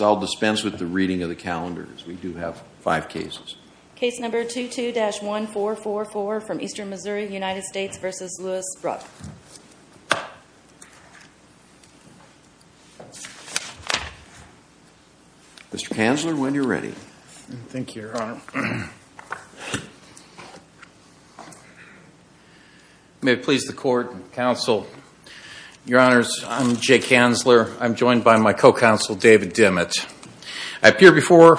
I'll dispense with the reading of the calendars. We do have five cases. Case number 22-1444 from Eastern Missouri, United States v. Louis Rupp. Mr. Kanzler, when you're ready. Thank you, Your Honor. May it please the court and counsel, Your Honors, I'm Jay Kanzler. I'm joined by my co-counsel, David Dimmett. I appear before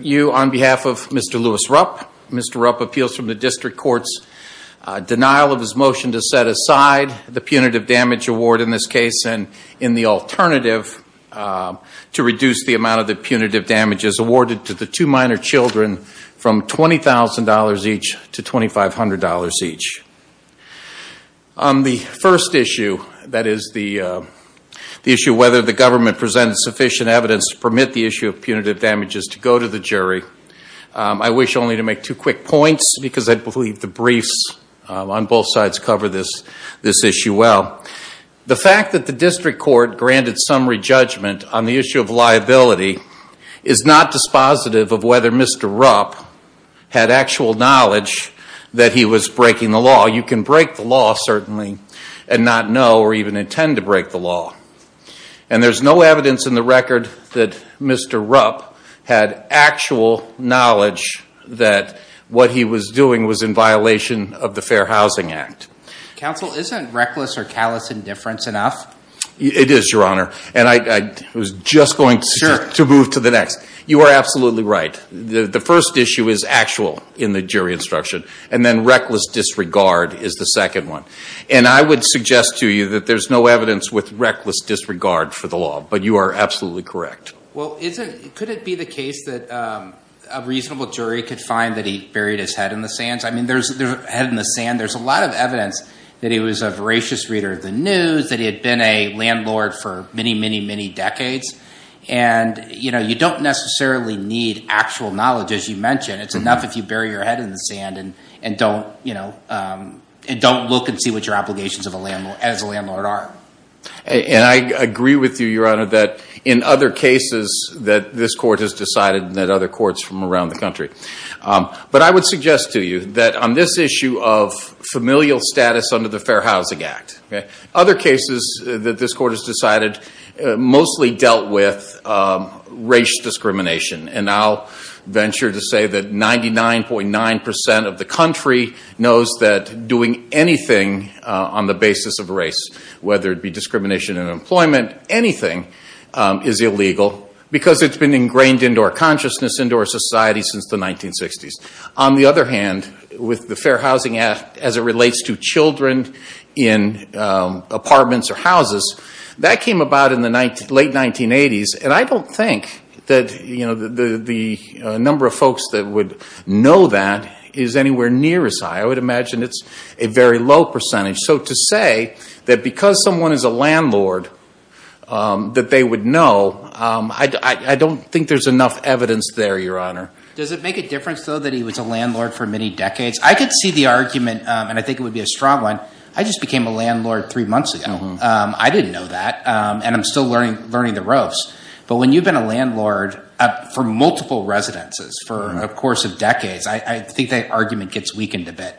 you on behalf of Mr. Louis Rupp. Mr. Rupp appeals from the district court's denial of his motion to set aside the punitive damage award in this case and in the alternative to reduce the amount of the punitive damages awarded to the two minor children from $20,000 each to $2,500 each. On the first issue, that is the issue of whether the government presented sufficient evidence to permit the issue of punitive damages to go to the jury, I wish only to make two quick points because I believe the briefs on both sides cover this issue well. The fact that the district court granted summary judgment on the issue of liability is not dispositive of whether Mr. Rupp had actual knowledge that he was breaking the law. You can break the law, certainly, and not know or even intend to break the law. And there's no evidence in the record that Mr. Rupp had actual knowledge that what he was doing was in violation of the Fair Housing Act. Counsel, isn't reckless or callous indifference enough? It is, Your Honor. And I was just going to move to the next. You are absolutely right. The first issue is actual in the jury instruction, and then reckless disregard is the second one. And I would suggest to you that there's no evidence with reckless disregard for the law, but you are absolutely correct. Well, could it be the case that a reasonable jury could find that he buried his head in the sands? I mean, there's a lot of evidence that he was a voracious reader of the news, that he had been a landlord for many, many, many decades. And you don't necessarily need actual knowledge, as you mentioned. It's enough if you bury your head in the sand and don't look and see what your obligations as a landlord are. And I agree with you, Your Honor, that in other cases that this court has decided and that other courts from around the country. But I would suggest to you that on this issue of familial status under the Fair Housing Act. Other cases that this court has decided mostly dealt with race discrimination. And I'll venture to say that 99.9% of the country knows that doing anything on the basis of race, whether it be discrimination in employment, anything is illegal because it's been ingrained into our consciousness, into our society since the 1960s. On the other hand, with the Fair Housing Act as it relates to children in apartments or houses, that came about in the late 1980s. And I don't think that the number of folks that would know that is anywhere near as high. I would imagine it's a very low percentage. So to say that because someone is a landlord that they would know, I don't think there's enough evidence there, Your Honor. Does it make a difference though that he was a landlord for many decades? I could see the argument and I think it would be a strong one. I just became a landlord three months ago. I didn't know that. And I'm still learning the ropes. But when you've been a landlord for multiple residences for a course of decades, I think that argument gets weakened a bit.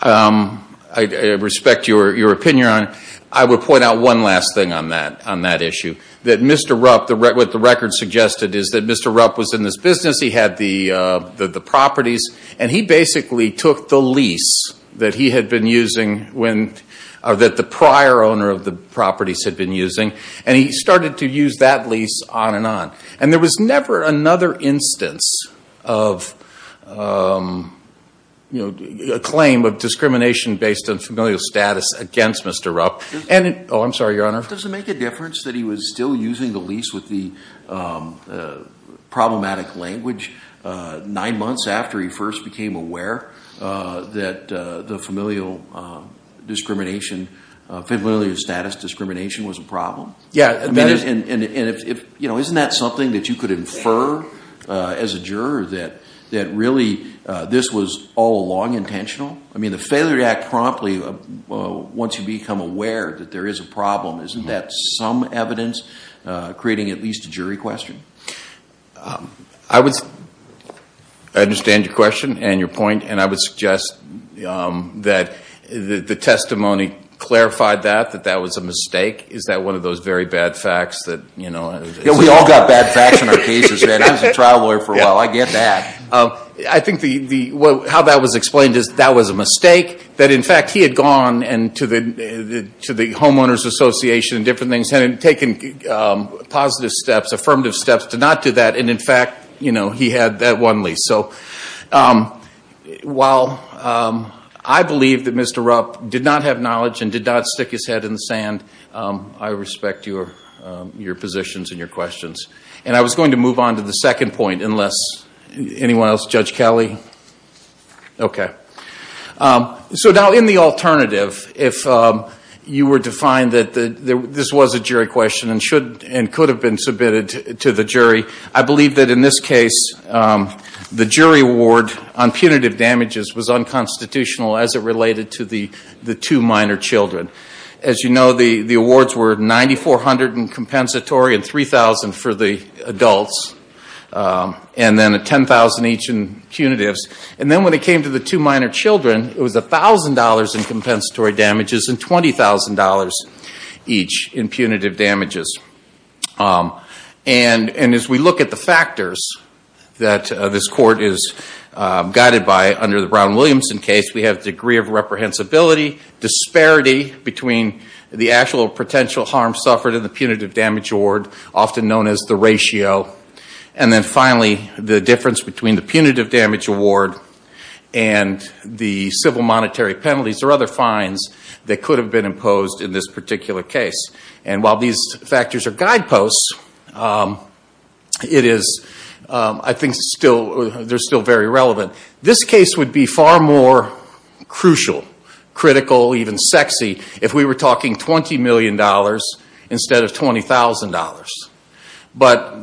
I respect your opinion. I would point out one last thing on that issue. That Mr. Rupp, what the record suggested is that Mr. Rupp was in this business. He had the properties and he basically took the lease that he had been using, that the prior owner of the properties had been using, and he started to use that lease on and on. And there was never another instance of a claim of discrimination based on familial status against Mr. Rupp. Oh, I'm sorry, Your Honor. Does it make a difference that he was still using the lease with the problematic language nine months after he first became aware that the familial discrimination, familial status discrimination was a problem? Yeah. I mean, isn't that something that you could infer as a juror that really this was all long intentional? I mean, the failure to act promptly once you become aware that there is a problem, isn't that some evidence creating at least a jury question? I understand your question and your point. And I would suggest that the testimony clarified that, that that was a mistake. Is that one of those very bad facts that, you know... Yeah, we all got bad facts in our cases, man. I was a trial lawyer for a while. I get that. I think how that was explained is that was a mistake, that in fact he had gone to the Homeowners Association and different things and taken positive steps, affirmative steps to not do that. And in fact, you know, he had that one lease. So while I believe that Mr. Rupp did not have knowledge and did not stick his head in the sand, I respect your positions and your questions. And I was going to move on to the second point, unless... Anyone else? Judge Kelly? Okay. So now in the alternative, if you were to find that this was a jury question and could have been submitted to the jury, I believe that in this case the jury award on punitive damages was unconstitutional as it related to the two minor children. As you know, the compensatory and $3,000 for the adults and then $10,000 each in punitives. And then when it came to the two minor children, it was $1,000 in compensatory damages and $20,000 each in punitive damages. And as we look at the factors that this Court is guided by under the Brown-Williamson case, we have degree of reprehensibility, disparity between the actual potential harm suffered in the punitive damage award, often known as the ratio, and then finally the difference between the punitive damage award and the civil monetary penalties or other fines that could have been imposed in this particular case. And while these factors are guideposts, I think they're still very relevant. This case would be far more crucial, critical, even sexy if we were talking $20 million instead of $20,000. But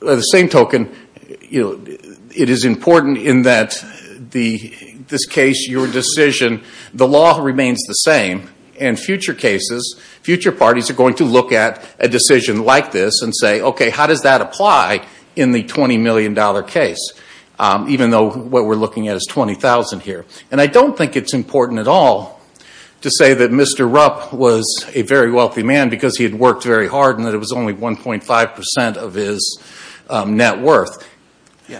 the same token, it is important in that this case, your decision, the law remains the same and future cases, future parties are going to look at a decision like this and say, okay, how does that apply in the $20 million case, even though what we're looking at is $20,000 here. And I don't think it's important at all to say that Mr. Rupp was a very wealthy man because he had worked very hard and that it was only 1.5% of his net worth.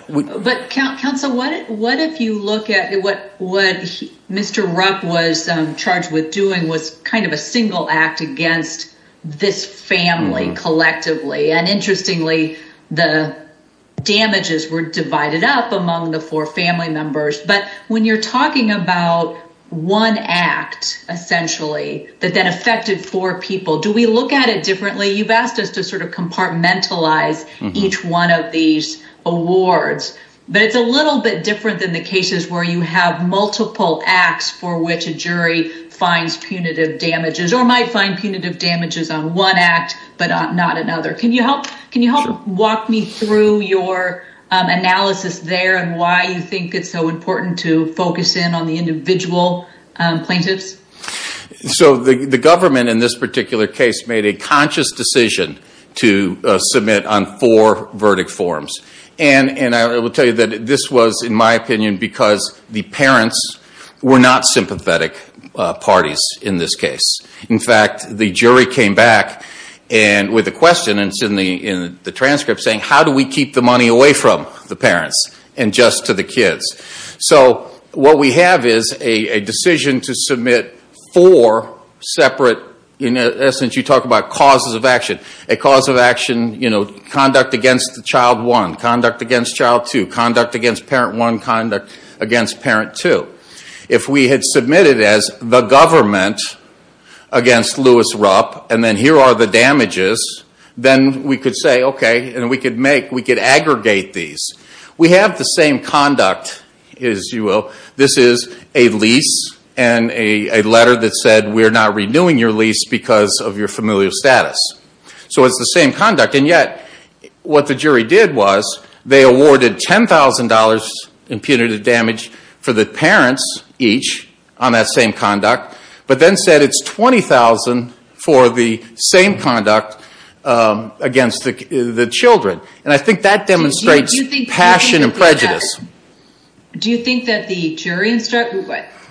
But counsel, what if you look at what Mr. Rupp was charged with doing was kind of a family, collectively. And interestingly, the damages were divided up among the four family members. But when you're talking about one act, essentially, that that affected four people, do we look at it differently? You've asked us to sort of compartmentalize each one of these awards, but it's a little bit different than the cases where you have multiple acts for which a jury finds punitive damages or might find punitive damages on one act, but not another. Can you help walk me through your analysis there and why you think it's so important to focus in on the individual plaintiffs? So the government in this particular case made a conscious decision to submit on four verdict forms. And I will tell you that this was, in my opinion, because the parents were not sympathetic parties in this case. In fact, the jury came back with a question in the transcript saying, how do we keep the money away from the parents and just to the kids? So what we have is a decision to submit four separate, in essence, you talk about causes of action. A cause of action, you know, conduct against child one, conduct against child two, conduct against parent one, conduct against parent two. If we had submitted as the government against Lewis Rupp, and then here are the damages, then we could say, okay, and we could make, we could aggregate these. We have the same conduct, as you will. This is a lease and a letter that said, we're not renewing your lease because of your familial status. So it's the same conduct. And yet, what the jury did was, they awarded $10,000 in punitive damage for the parents each on that same conduct, but then said it's $20,000 for the same conduct against the children. And I think that demonstrates passion and prejudice. Do you think that the jury,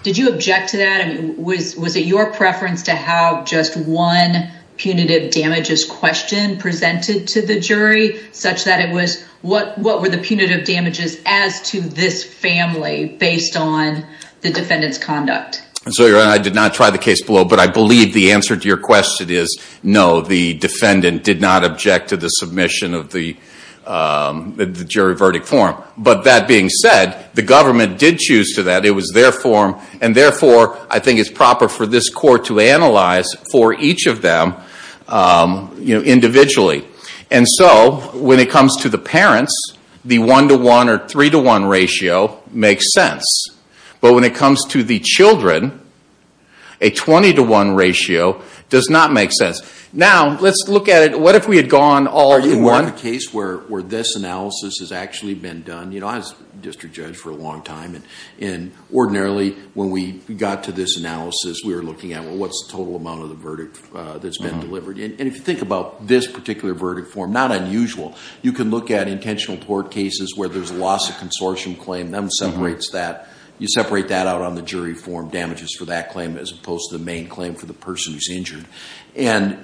did you object to that? Was it your preference to have just one punitive damages question presented to the jury, such that it was, what were the punitive damages as to this family based on the defendant's conduct? So you're right, I did not try the case below, but I believe the answer to your question is no, the defendant did not object to the submission of the jury verdict form. But that being said, the government did choose to that. It was their form. And therefore, I think it's proper for this court to analyze for each of them individually. And so, when it comes to the parents, the 1 to 1 or 3 to 1 ratio makes sense. But when it comes to the children, a 20 to 1 ratio does not make sense. Now, let's look at it, what if we had gone all in one? Are you aware of a case where this analysis has actually been done? I was a district judge for a long time. And ordinarily, when we got to this analysis, we were looking at what's the total amount of the verdict that's been delivered. And if you think about this particular verdict form, not unusual. You can look at intentional tort cases where there's loss of consortium claim, then separates that. You separate that out on the jury form damages for that claim as opposed to the main claim for the person who's injured. And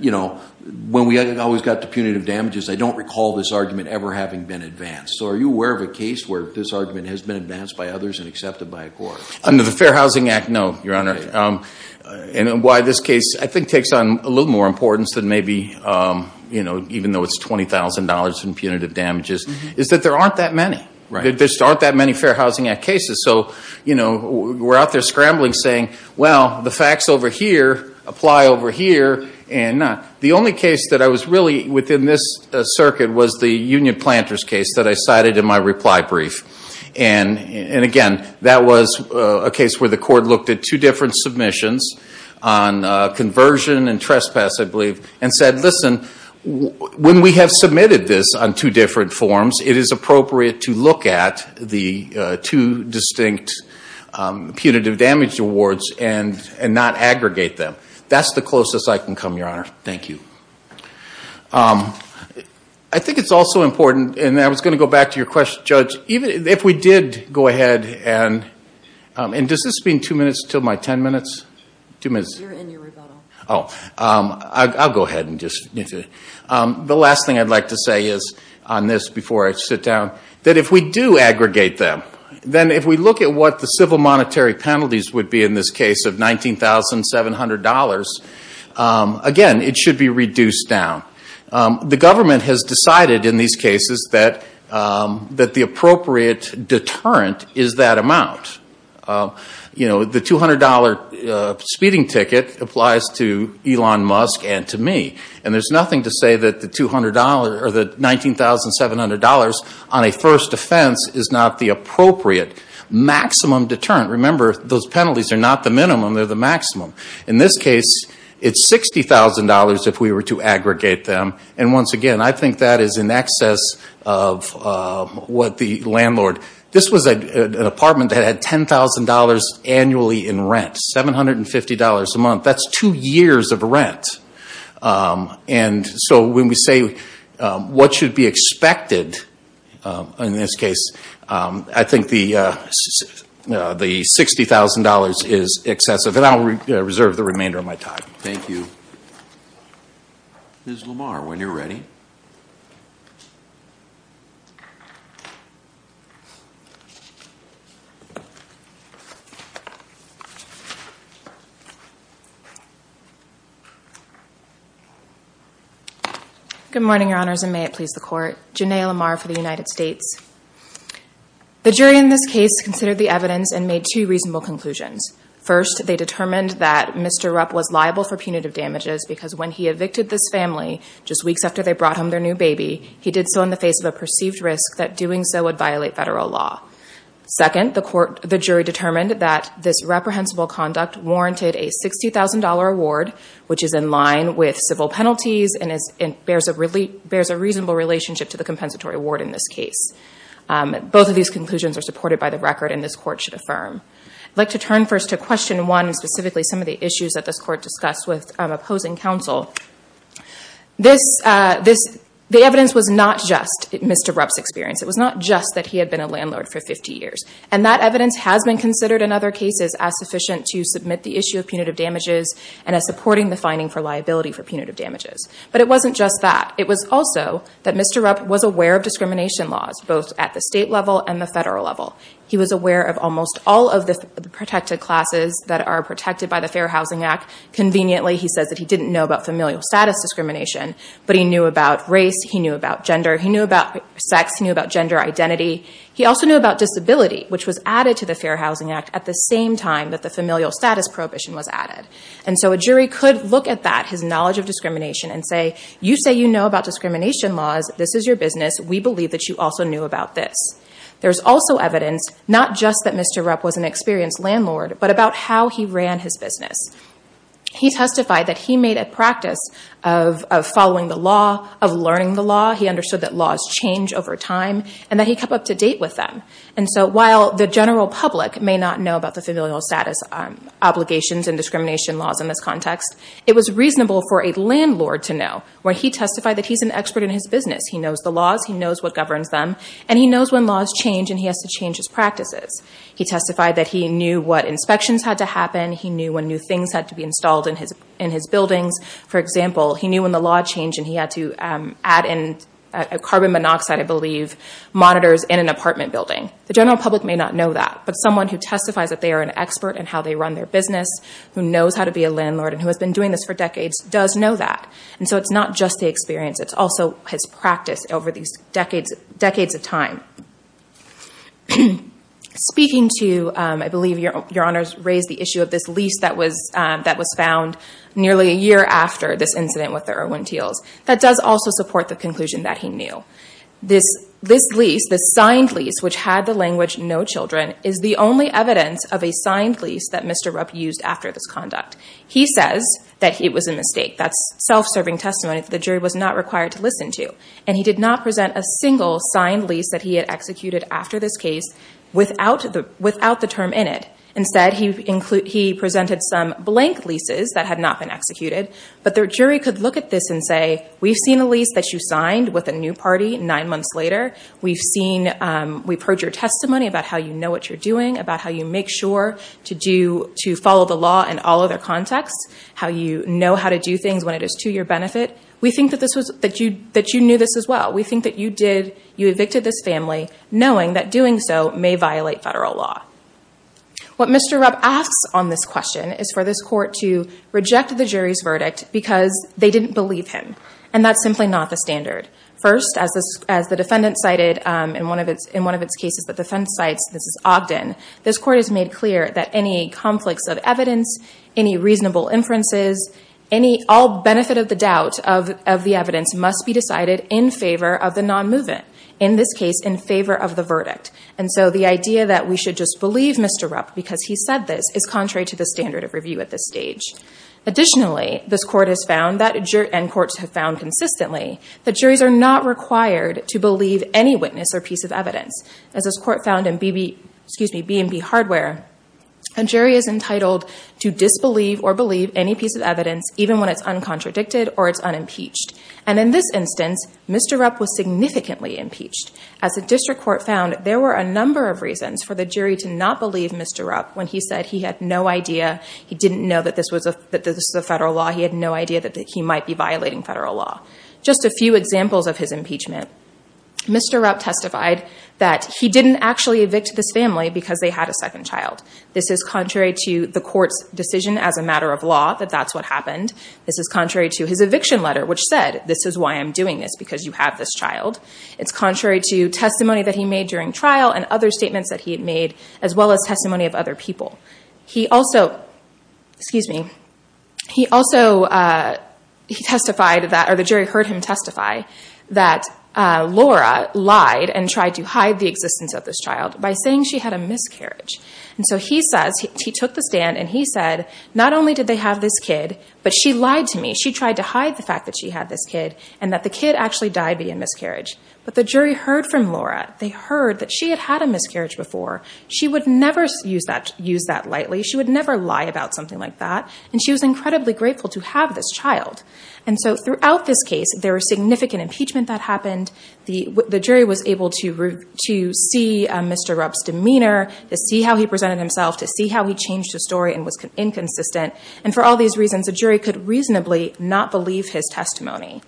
when we always got to punitive damages, I don't recall this argument ever having been advanced. So, are you aware of a case where this argument has been advanced by others and accepted by a court? Under the Fair Housing Act, no, Your Honor. And why this case, I think, takes on a little more importance than maybe, even though it's $20,000 in punitive damages, is that there aren't that many. There just aren't that many Fair Housing Act cases. So, we're out there scrambling saying, well, the facts over here apply over here and not. The only case that I was really within this circuit was the Union Planters case that I cited in my reply brief. And again, that was a case where the court looked at two different submissions on conversion and trespass, I believe, and said, listen, when we have submitted this on two different forms, it is appropriate to look at the two distinct punitive damage awards and not aggregate them. That's the closest I can come, Your Honor. Thank you. I think it's also important, and I was going to go back to your question, Judge, even if we did go ahead and, and does this mean two minutes until my ten minutes? Two minutes. You're in your rebuttal. Oh, I'll go ahead and just, the last thing I'd like to say is on this before I sit down, that if we do aggregate them, then if we look at what the civil monetary penalties would be in this case of $19,700, again, it should be reduced down. The government has decided in these cases that, that the appropriate deterrent is that amount. You know, the $200 speeding ticket applies to Elon Musk and to me. And there's nothing to say that the $200 or the $19,700 on a first offense is not the appropriate maximum deterrent. Remember, those penalties are not the minimum, they're the maximum. In this case, it's $60,000 if we were to aggregate them. And once again, I think that is in excess of what the landlord, this was an apartment that had $10,000 annually in rent, $750 a month. That's two years of what should be expected in this case. I think the $60,000 is excessive. And I'll reserve the remainder of my time. Thank you. Ms. Lamar, when you're ready. Thank you. Good morning, Your Honors, and may it please the Court. Janae Lamar for the United States. The jury in this case considered the evidence and made two reasonable conclusions. First, they determined that Mr. Rupp was liable for punitive damages because when he evicted this family just weeks after they brought home their new baby, he did so in the face of a perceived risk that doing so would violate federal law. Second, the jury determined that this reprehensible conduct warranted a $60,000 award, which is in line with civil penalties and bears a reasonable relationship to the compensatory award in this case. Both of these conclusions are supported by the record and this Court should affirm. I'd like to turn first to question one, specifically some of the issues that this Court discussed with opposing counsel. The evidence was not just Mr. Rupp's experience. It was not just that he had been a landlord for 50 years. And that evidence has been considered in other cases as sufficient to submit the issue of punitive damages and as supporting the finding for liability for punitive damages. But it wasn't just that. It was also that Mr. Rupp was aware of discrimination laws, both at the state level and the federal level. He was aware of almost all of the protected classes that are protected by the Fair Housing Act. Conveniently, he says that he didn't know about familial status discrimination, but he knew about race, he knew about gender, he knew about sex, he knew about gender identity. He also knew about disability, which was added to the Fair Housing Act at the same time that the familial status prohibition was added. And so a jury could look at that, his knowledge of discrimination, and say, you say you know about discrimination laws. This is your business. We believe that you also knew about this. There's also evidence, not just that Mr. Rupp was an experienced landlord, but about how he ran his business. He testified that he made a practice of following the law, of learning the law. He understood that laws change over time, and that he kept up to date with them. And so while the general public may not know about the familial status obligations and discrimination laws in this context, it was reasonable for a landlord to know, where he testified that he's an expert in his business. He knows the laws, he knows what governs them, and he knows when laws change and he has to change his practices. He testified that he knew what inspections had to happen. He knew when new things had to be installed in his buildings. For example, he knew when the law changed and he had to add in carbon monoxide, I believe, monitors in an apartment building. The general public may not know that, but someone who testifies that they are an expert in how they run their business, who knows how to be a landlord, and who has been doing this for decades, does know that. And so it's not just the experience, it's also his practice over these decades of time. Speaking to, I believe, Your Honors raised the issue of this lease that was found nearly a year after this incident with the Irwin-Teals, that does also support the conclusion that he knew. This lease, this signed lease, which had the language, no children, is the only evidence of a signed lease that Mr. Rupp used after this to listen to. And he did not present a single signed lease that he had executed after this case without the term in it. Instead, he presented some blank leases that had not been executed. But the jury could look at this and say, we've seen a lease that you signed with a new party nine months later. We've heard your testimony about how you know what you're doing, about how you make sure to follow the law in all other contexts, how you know how to do things when it is to your benefit. We think that you knew this as well. We think that you evicted this family knowing that doing so may violate federal law. What Mr. Rupp asks on this question is for this court to reject the jury's verdict because they didn't believe him. And that's simply not the standard. First, as the defendant cited in one of its cases, the defense cites, this is Ogden, this court has made clear that any conflicts of evidence, any reasonable inferences, any all benefit of the doubt of the evidence must be decided in favor of the non-movement, in this case, in favor of the verdict. And so the idea that we should just believe Mr. Rupp because he said this is contrary to the standard of review at this stage. Additionally, this court has found that, and courts have found consistently, that juries are not required to believe any witness or piece of evidence. As this court found in B&B Hardware, a jury is entitled to disbelieve or believe any piece of evidence, even when it's uncontradicted or it's unimpeached. And in this instance, Mr. Rupp was significantly impeached. As the district court found, there were a number of reasons for the jury to not believe Mr. Rupp when he said he had no idea, he didn't know that this was a federal law, he had no idea that he might be violating federal law. Just a few examples of his impeachment. Mr. Rupp testified that he didn't actually evict this family because they had a second child. This is contrary to the court's decision as a matter of law that that's what happened. This is contrary to his eviction letter, which said, this is why I'm doing this, because you have this child. It's contrary to testimony that he made during trial and other statements that he had made, as well as testimony of other people. He also testified that, or the jury heard him testify, that Laura lied and tried to hide the existence of this child by saying she had a miscarriage. And so he took the stand and he said, not only did they have this kid, but she lied to me. She tried to hide the fact that she had this kid and that the kid actually died via miscarriage. But the jury heard from Laura. They heard that she had had a miscarriage before. She would never use that lightly. She would never lie about something like that. And she was incredibly grateful to have this child. And so throughout this case, there was significant to see how he presented himself, to see how he changed his story and was inconsistent. And for all these reasons, a jury could reasonably not believe his testimony.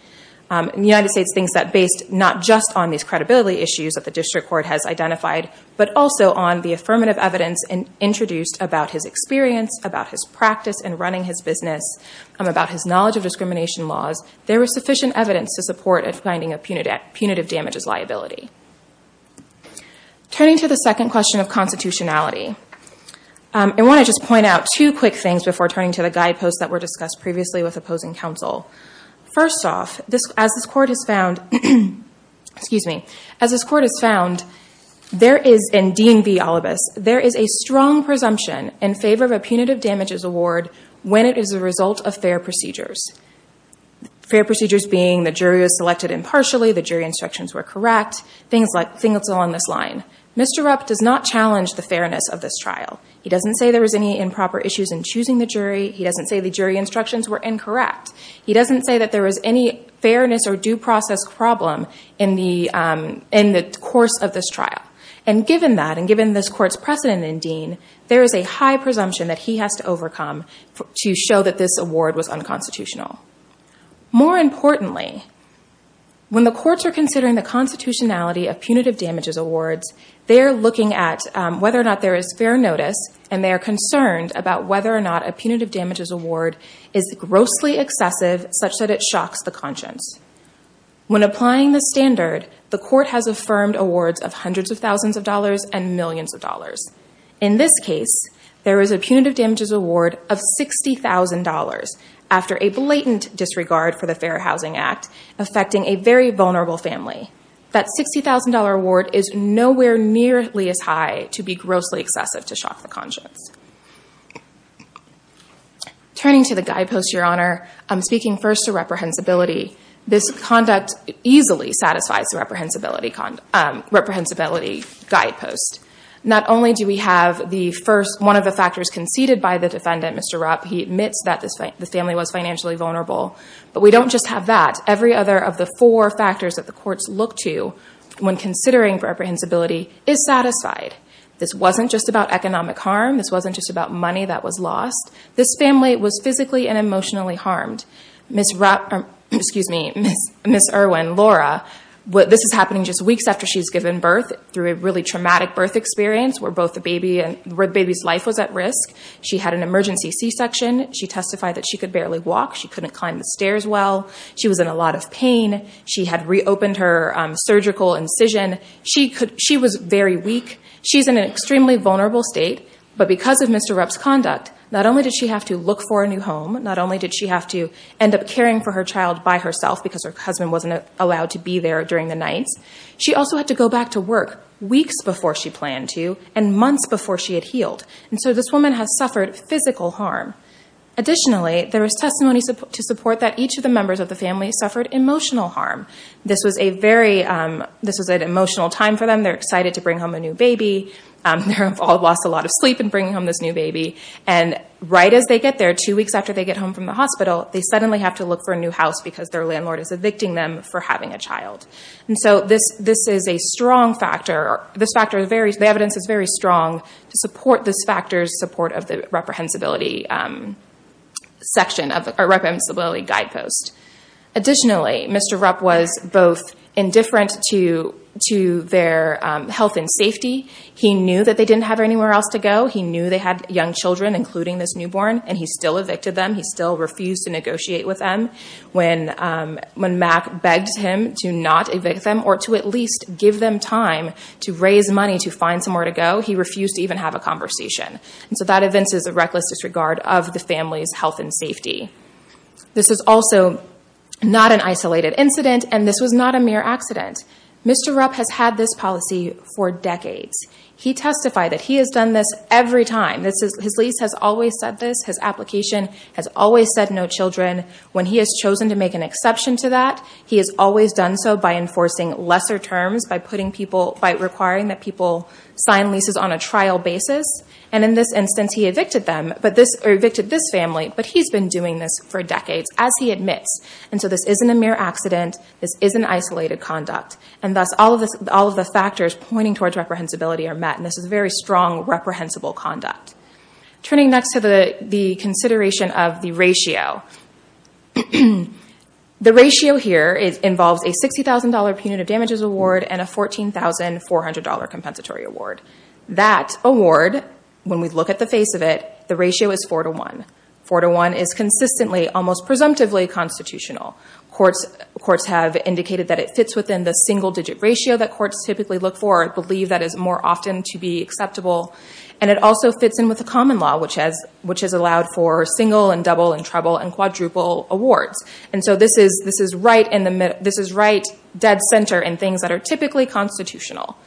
And the United States thinks that based not just on these credibility issues that the district court has identified, but also on the affirmative evidence introduced about his experience, about his practice in running his business, about his knowledge of discrimination laws, there was sufficient evidence to support a finding of punitive damages liability. Turning to the second question of constitutionality, I want to just point out two quick things before turning to the guideposts that were discussed previously with opposing counsel. First off, as this court has found, there is, in D&B Olibus, there is a strong presumption in favor of a punitive damages award when it is a result of fair procedures. Fair procedures being the jury was selected impartially, the jury instructions were correct, things along this line. Mr. Rupp does not challenge the fairness of this trial. He doesn't say there was any improper issues in choosing the jury. He doesn't say the jury instructions were incorrect. He doesn't say that there was any fairness or due process problem in the course of this trial. And given that, and given this court's precedent in Dean, there is a high presumption that he has to overcome to show that this award was unconstitutional. More importantly, when the courts are considering the constitutionality of punitive damages awards, they are looking at whether or not there is fair notice, and they are concerned about whether or not a punitive damages award is grossly excessive such that it shocks the conscience. When applying the standard, the court has affirmed awards of hundreds of thousands of dollars and millions of dollars. In this case, there is a punitive damages award of $60,000 after a blatant disregard for the Fair Housing Act affecting a very vulnerable family. That $60,000 award is nowhere nearly as high to be grossly excessive to shock the conscience. Turning to the guidepost, Your Honor, speaking first to reprehensibility, this conduct easily satisfies the reprehensibility guidepost. Not only do we have the first one of the factors conceded by the defendant, Mr. Rupp, he admits that the family was financially vulnerable. But we don't just have that. Every other of the four factors that the courts look to when considering reprehensibility is satisfied. This wasn't just about economic harm. This wasn't just about money that was lost. This family was physically and emotionally harmed. Ms. Irwin, Laura, this is happening just weeks after she's given birth through a really traumatic birth experience where both the baby's life was at risk. She had an emergency C-section. She testified that she could barely walk. She couldn't climb the stairs well. She was in a lot of pain. She had reopened her surgical incision. She was very weak. She's in an extremely vulnerable state. But because of Mr. Rupp's conduct, not only did she have to look for a new home, not only did she have to end up caring for her child by herself because her husband wasn't allowed to be there during the nights, she also had to go back to work weeks before she planned to and months before she had healed. And so this woman has suffered physical harm. Additionally, there was testimony to support that each of the members of the family suffered emotional harm. This was an emotional time for them. They're excited to bring home a new baby. They've all lost a lot of sleep in bringing home this new baby. And right as they get there, two weeks after they get home from the hospital, they suddenly have to look for a new house because their landlord is evicting them for this. This is a strong factor. The evidence is very strong to support this factor's support of the reprehensibility guidepost. Additionally, Mr. Rupp was both indifferent to their health and safety. He knew that they didn't have anywhere else to go. He knew they had young children, including this newborn, and he still evicted them. He still refused to negotiate with them. When Mac begged him to not evict them or to at least give them time to raise money to find somewhere to go, he refused to even have a conversation. And so that evinces a reckless disregard of the family's health and safety. This is also not an isolated incident, and this was not a mere accident. Mr. Rupp has had this policy for decades. He testified that he has done this every time. His lease has always said this. His application has always said no when he has chosen to make an exception to that. He has always done so by enforcing lesser terms, by requiring that people sign leases on a trial basis. In this instance, he evicted this family, but he's been doing this for decades, as he admits. This isn't a mere accident. This isn't isolated conduct. Thus, all of the factors pointing towards reprehensibility are met. This is very strong, reprehensible conduct. Turning next to the consideration of the ratio. The ratio here involves a $60,000 punitive damages award and a $14,400 compensatory award. That award, when we look at the face of it, the ratio is 4 to 1. 4 to 1 is consistently almost presumptively constitutional. Courts have indicated that it fits within the single-digit ratio that courts typically look for. I believe that is more often to be acceptable. It also fits in with the common law, which has allowed for single and double and treble and quadruple awards. This is right dead center in things that are typically constitutional.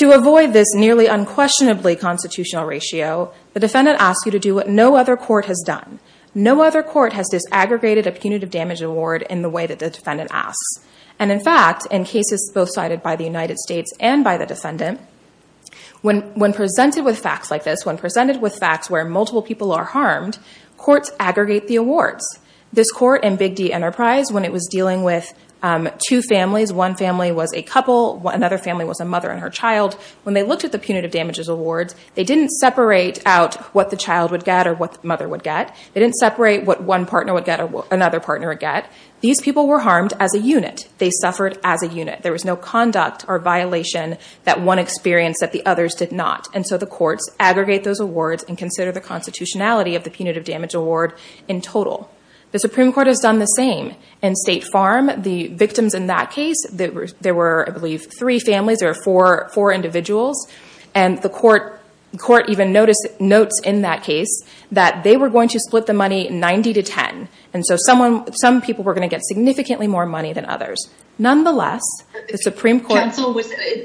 To avoid this nearly unquestionably constitutional ratio, the defendant asks you to do what no other court has done. No other court has disaggregated a punitive damages award in the way that the defendant asks. In fact, in cases both cited by the United States and by the defendant, when presented with facts like this, when presented with facts where multiple people are harmed, courts aggregate the awards. This court in Big D Enterprise, when it was dealing with two families, one family was a couple, another family was a mother and her child, when they looked at the punitive damages awards, they didn't separate out what the child would get or what the mother would get. They didn't separate what one partner would get or what another partner would get. These people were harmed as a unit. They suffered as a violation that one experienced that the others did not. The courts aggregate those awards and consider the constitutionality of the punitive damage award in total. The Supreme Court has done the same. In State Farm, the victims in that case, there were, I believe, three families or four individuals. The court even notes in that case that they were going to split the money 90 to 10. Some people were going to get significantly more money than others. Nonetheless, the Supreme Court...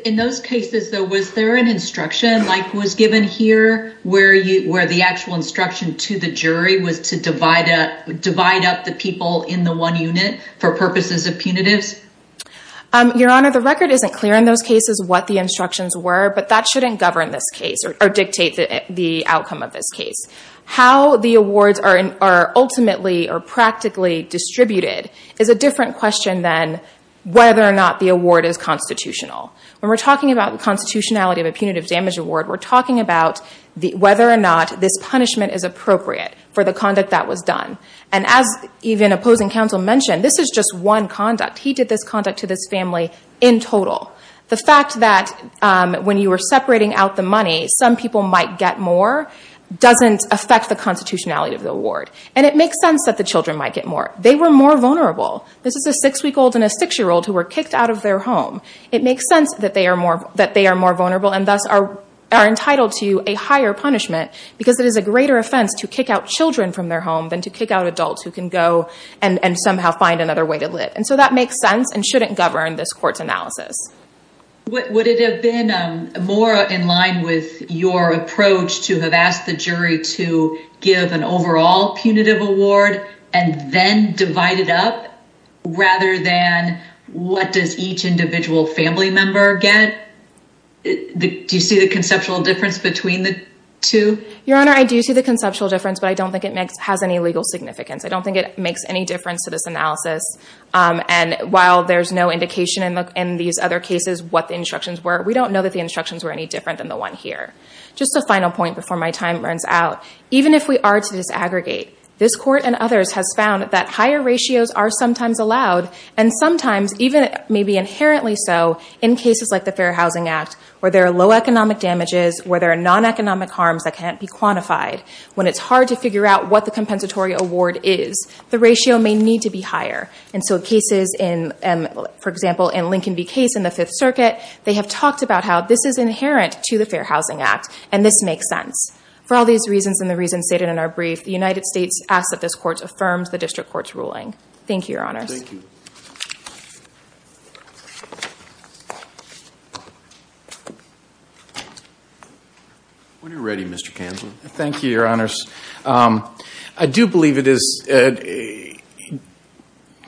In those cases, though, was there an instruction like was given here where the actual instruction to the jury was to divide up the people in the one unit for purposes of punitives? Your Honor, the record isn't clear in those cases what the instructions were, but that shouldn't govern this case or dictate the outcome of this case. How the awards are ultimately or practically distributed is a different question than whether or not the punishment is constitutional. When we're talking about the constitutionality of a punitive damage award, we're talking about whether or not this punishment is appropriate for the conduct that was done. As even opposing counsel mentioned, this is just one conduct. He did this conduct to this family in total. The fact that when you were separating out the money, some people might get more doesn't affect the constitutionality of the award. It makes sense that the children might get more. They were more vulnerable. This is a six-week-old and a six-year-old who were kicked out of their home. It makes sense that they are more vulnerable and thus are entitled to a higher punishment because it is a greater offense to kick out children from their home than to kick out adults who can go and somehow find another way to live. That makes sense and shouldn't govern this court's analysis. Would it have been more in line with your approach to have asked the jury to an overall punitive award and then divide it up rather than what does each individual family member get? Do you see the conceptual difference between the two? Your Honor, I do see the conceptual difference, but I don't think it has any legal significance. I don't think it makes any difference to this analysis. While there's no indication in these other cases what the instructions were, we don't know that the instructions were any different than the one here. Just a final point before my time runs out. Even if we are to disaggregate, this court and others have found that higher ratios are sometimes allowed and sometimes, even maybe inherently so, in cases like the Fair Housing Act, where there are low economic damages, where there are non-economic harms that can't be quantified, when it's hard to figure out what the compensatory award is, the ratio may need to be higher. For example, in the Lincoln v. Case in the Fifth Circuit, they have talked about how this is inherent to the Fair Housing Act and this makes sense. For all these reasons and the reasons stated in our brief, the United States asks that this court affirms the district court's ruling. Thank you, Your Honors. When you're ready, Mr. Kansel. Thank you, Your Honors. I do believe it is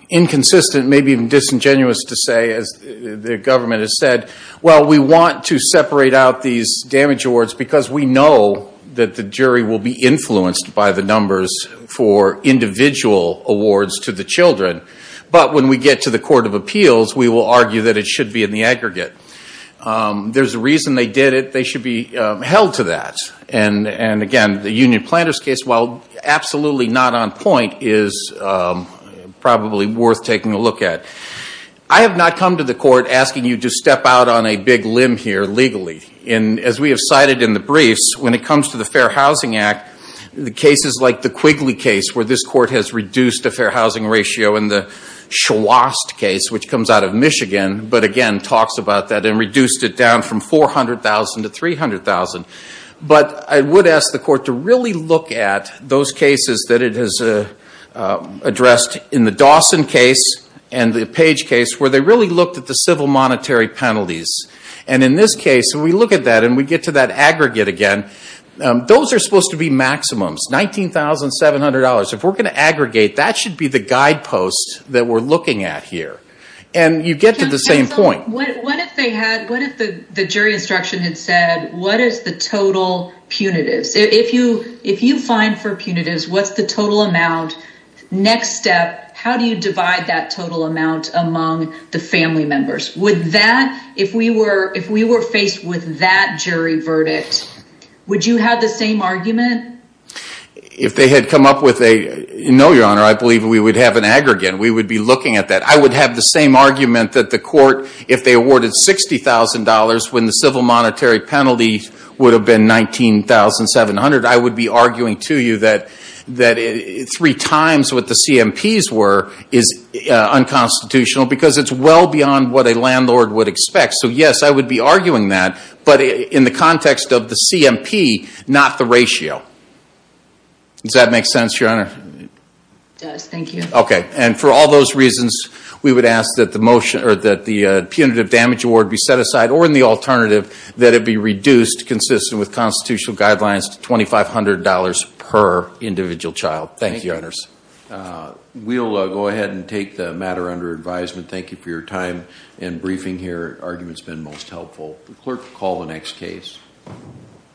inconsistent, maybe even disingenuous to say, as the government has said, well, we want to separate out these damage awards because we know that the jury will be influenced by the numbers for individual awards to the children. But when we get to the Court of Appeals, we will argue that it should be in the aggregate. There's a reason they did it. They should be held to that. And again, the union planter's case, while absolutely not on point, is probably worth taking a look at. I have not come to the court asking you to step out on a big limb here legally. And as we have cited in the briefs, when it comes to the Fair Housing Act, the cases like the Quigley case, where this court has reduced the fair housing ratio, and the Schwast case, which comes out of Michigan, but again, talks about that and $400,000 to $300,000. But I would ask the court to really look at those cases that it has addressed in the Dawson case and the Page case, where they really looked at the civil monetary penalties. And in this case, when we look at that and we get to that aggregate again, those are supposed to be maximums, $19,700. If we're going to aggregate, that should be the had said, what is the total punitives? If you fine for punitives, what's the total amount? Next step, how do you divide that total amount among the family members? If we were faced with that jury verdict, would you have the same argument? No, Your Honor. I believe we would have an aggregate. We would be looking at that. I would have the same argument that the court, if they awarded $60,000 when the civil monetary penalty would have been $19,700, I would be arguing to you that three times what the CMPs were is unconstitutional, because it's well beyond what a landlord would expect. So yes, I would be arguing that, but in the context of the CMP, not the ratio. Does that make sense, Your Honor? It does. Thank you. And for all those reasons, we would ask that the punitive damage award be set aside, or in the alternative, that it be reduced consistent with constitutional guidelines to $2,500 per individual child. Thank you, Your Honors. We'll go ahead and take the matter under advisement. Thank you for your time and briefing here. The argument's been most helpful. The clerk will call the next case.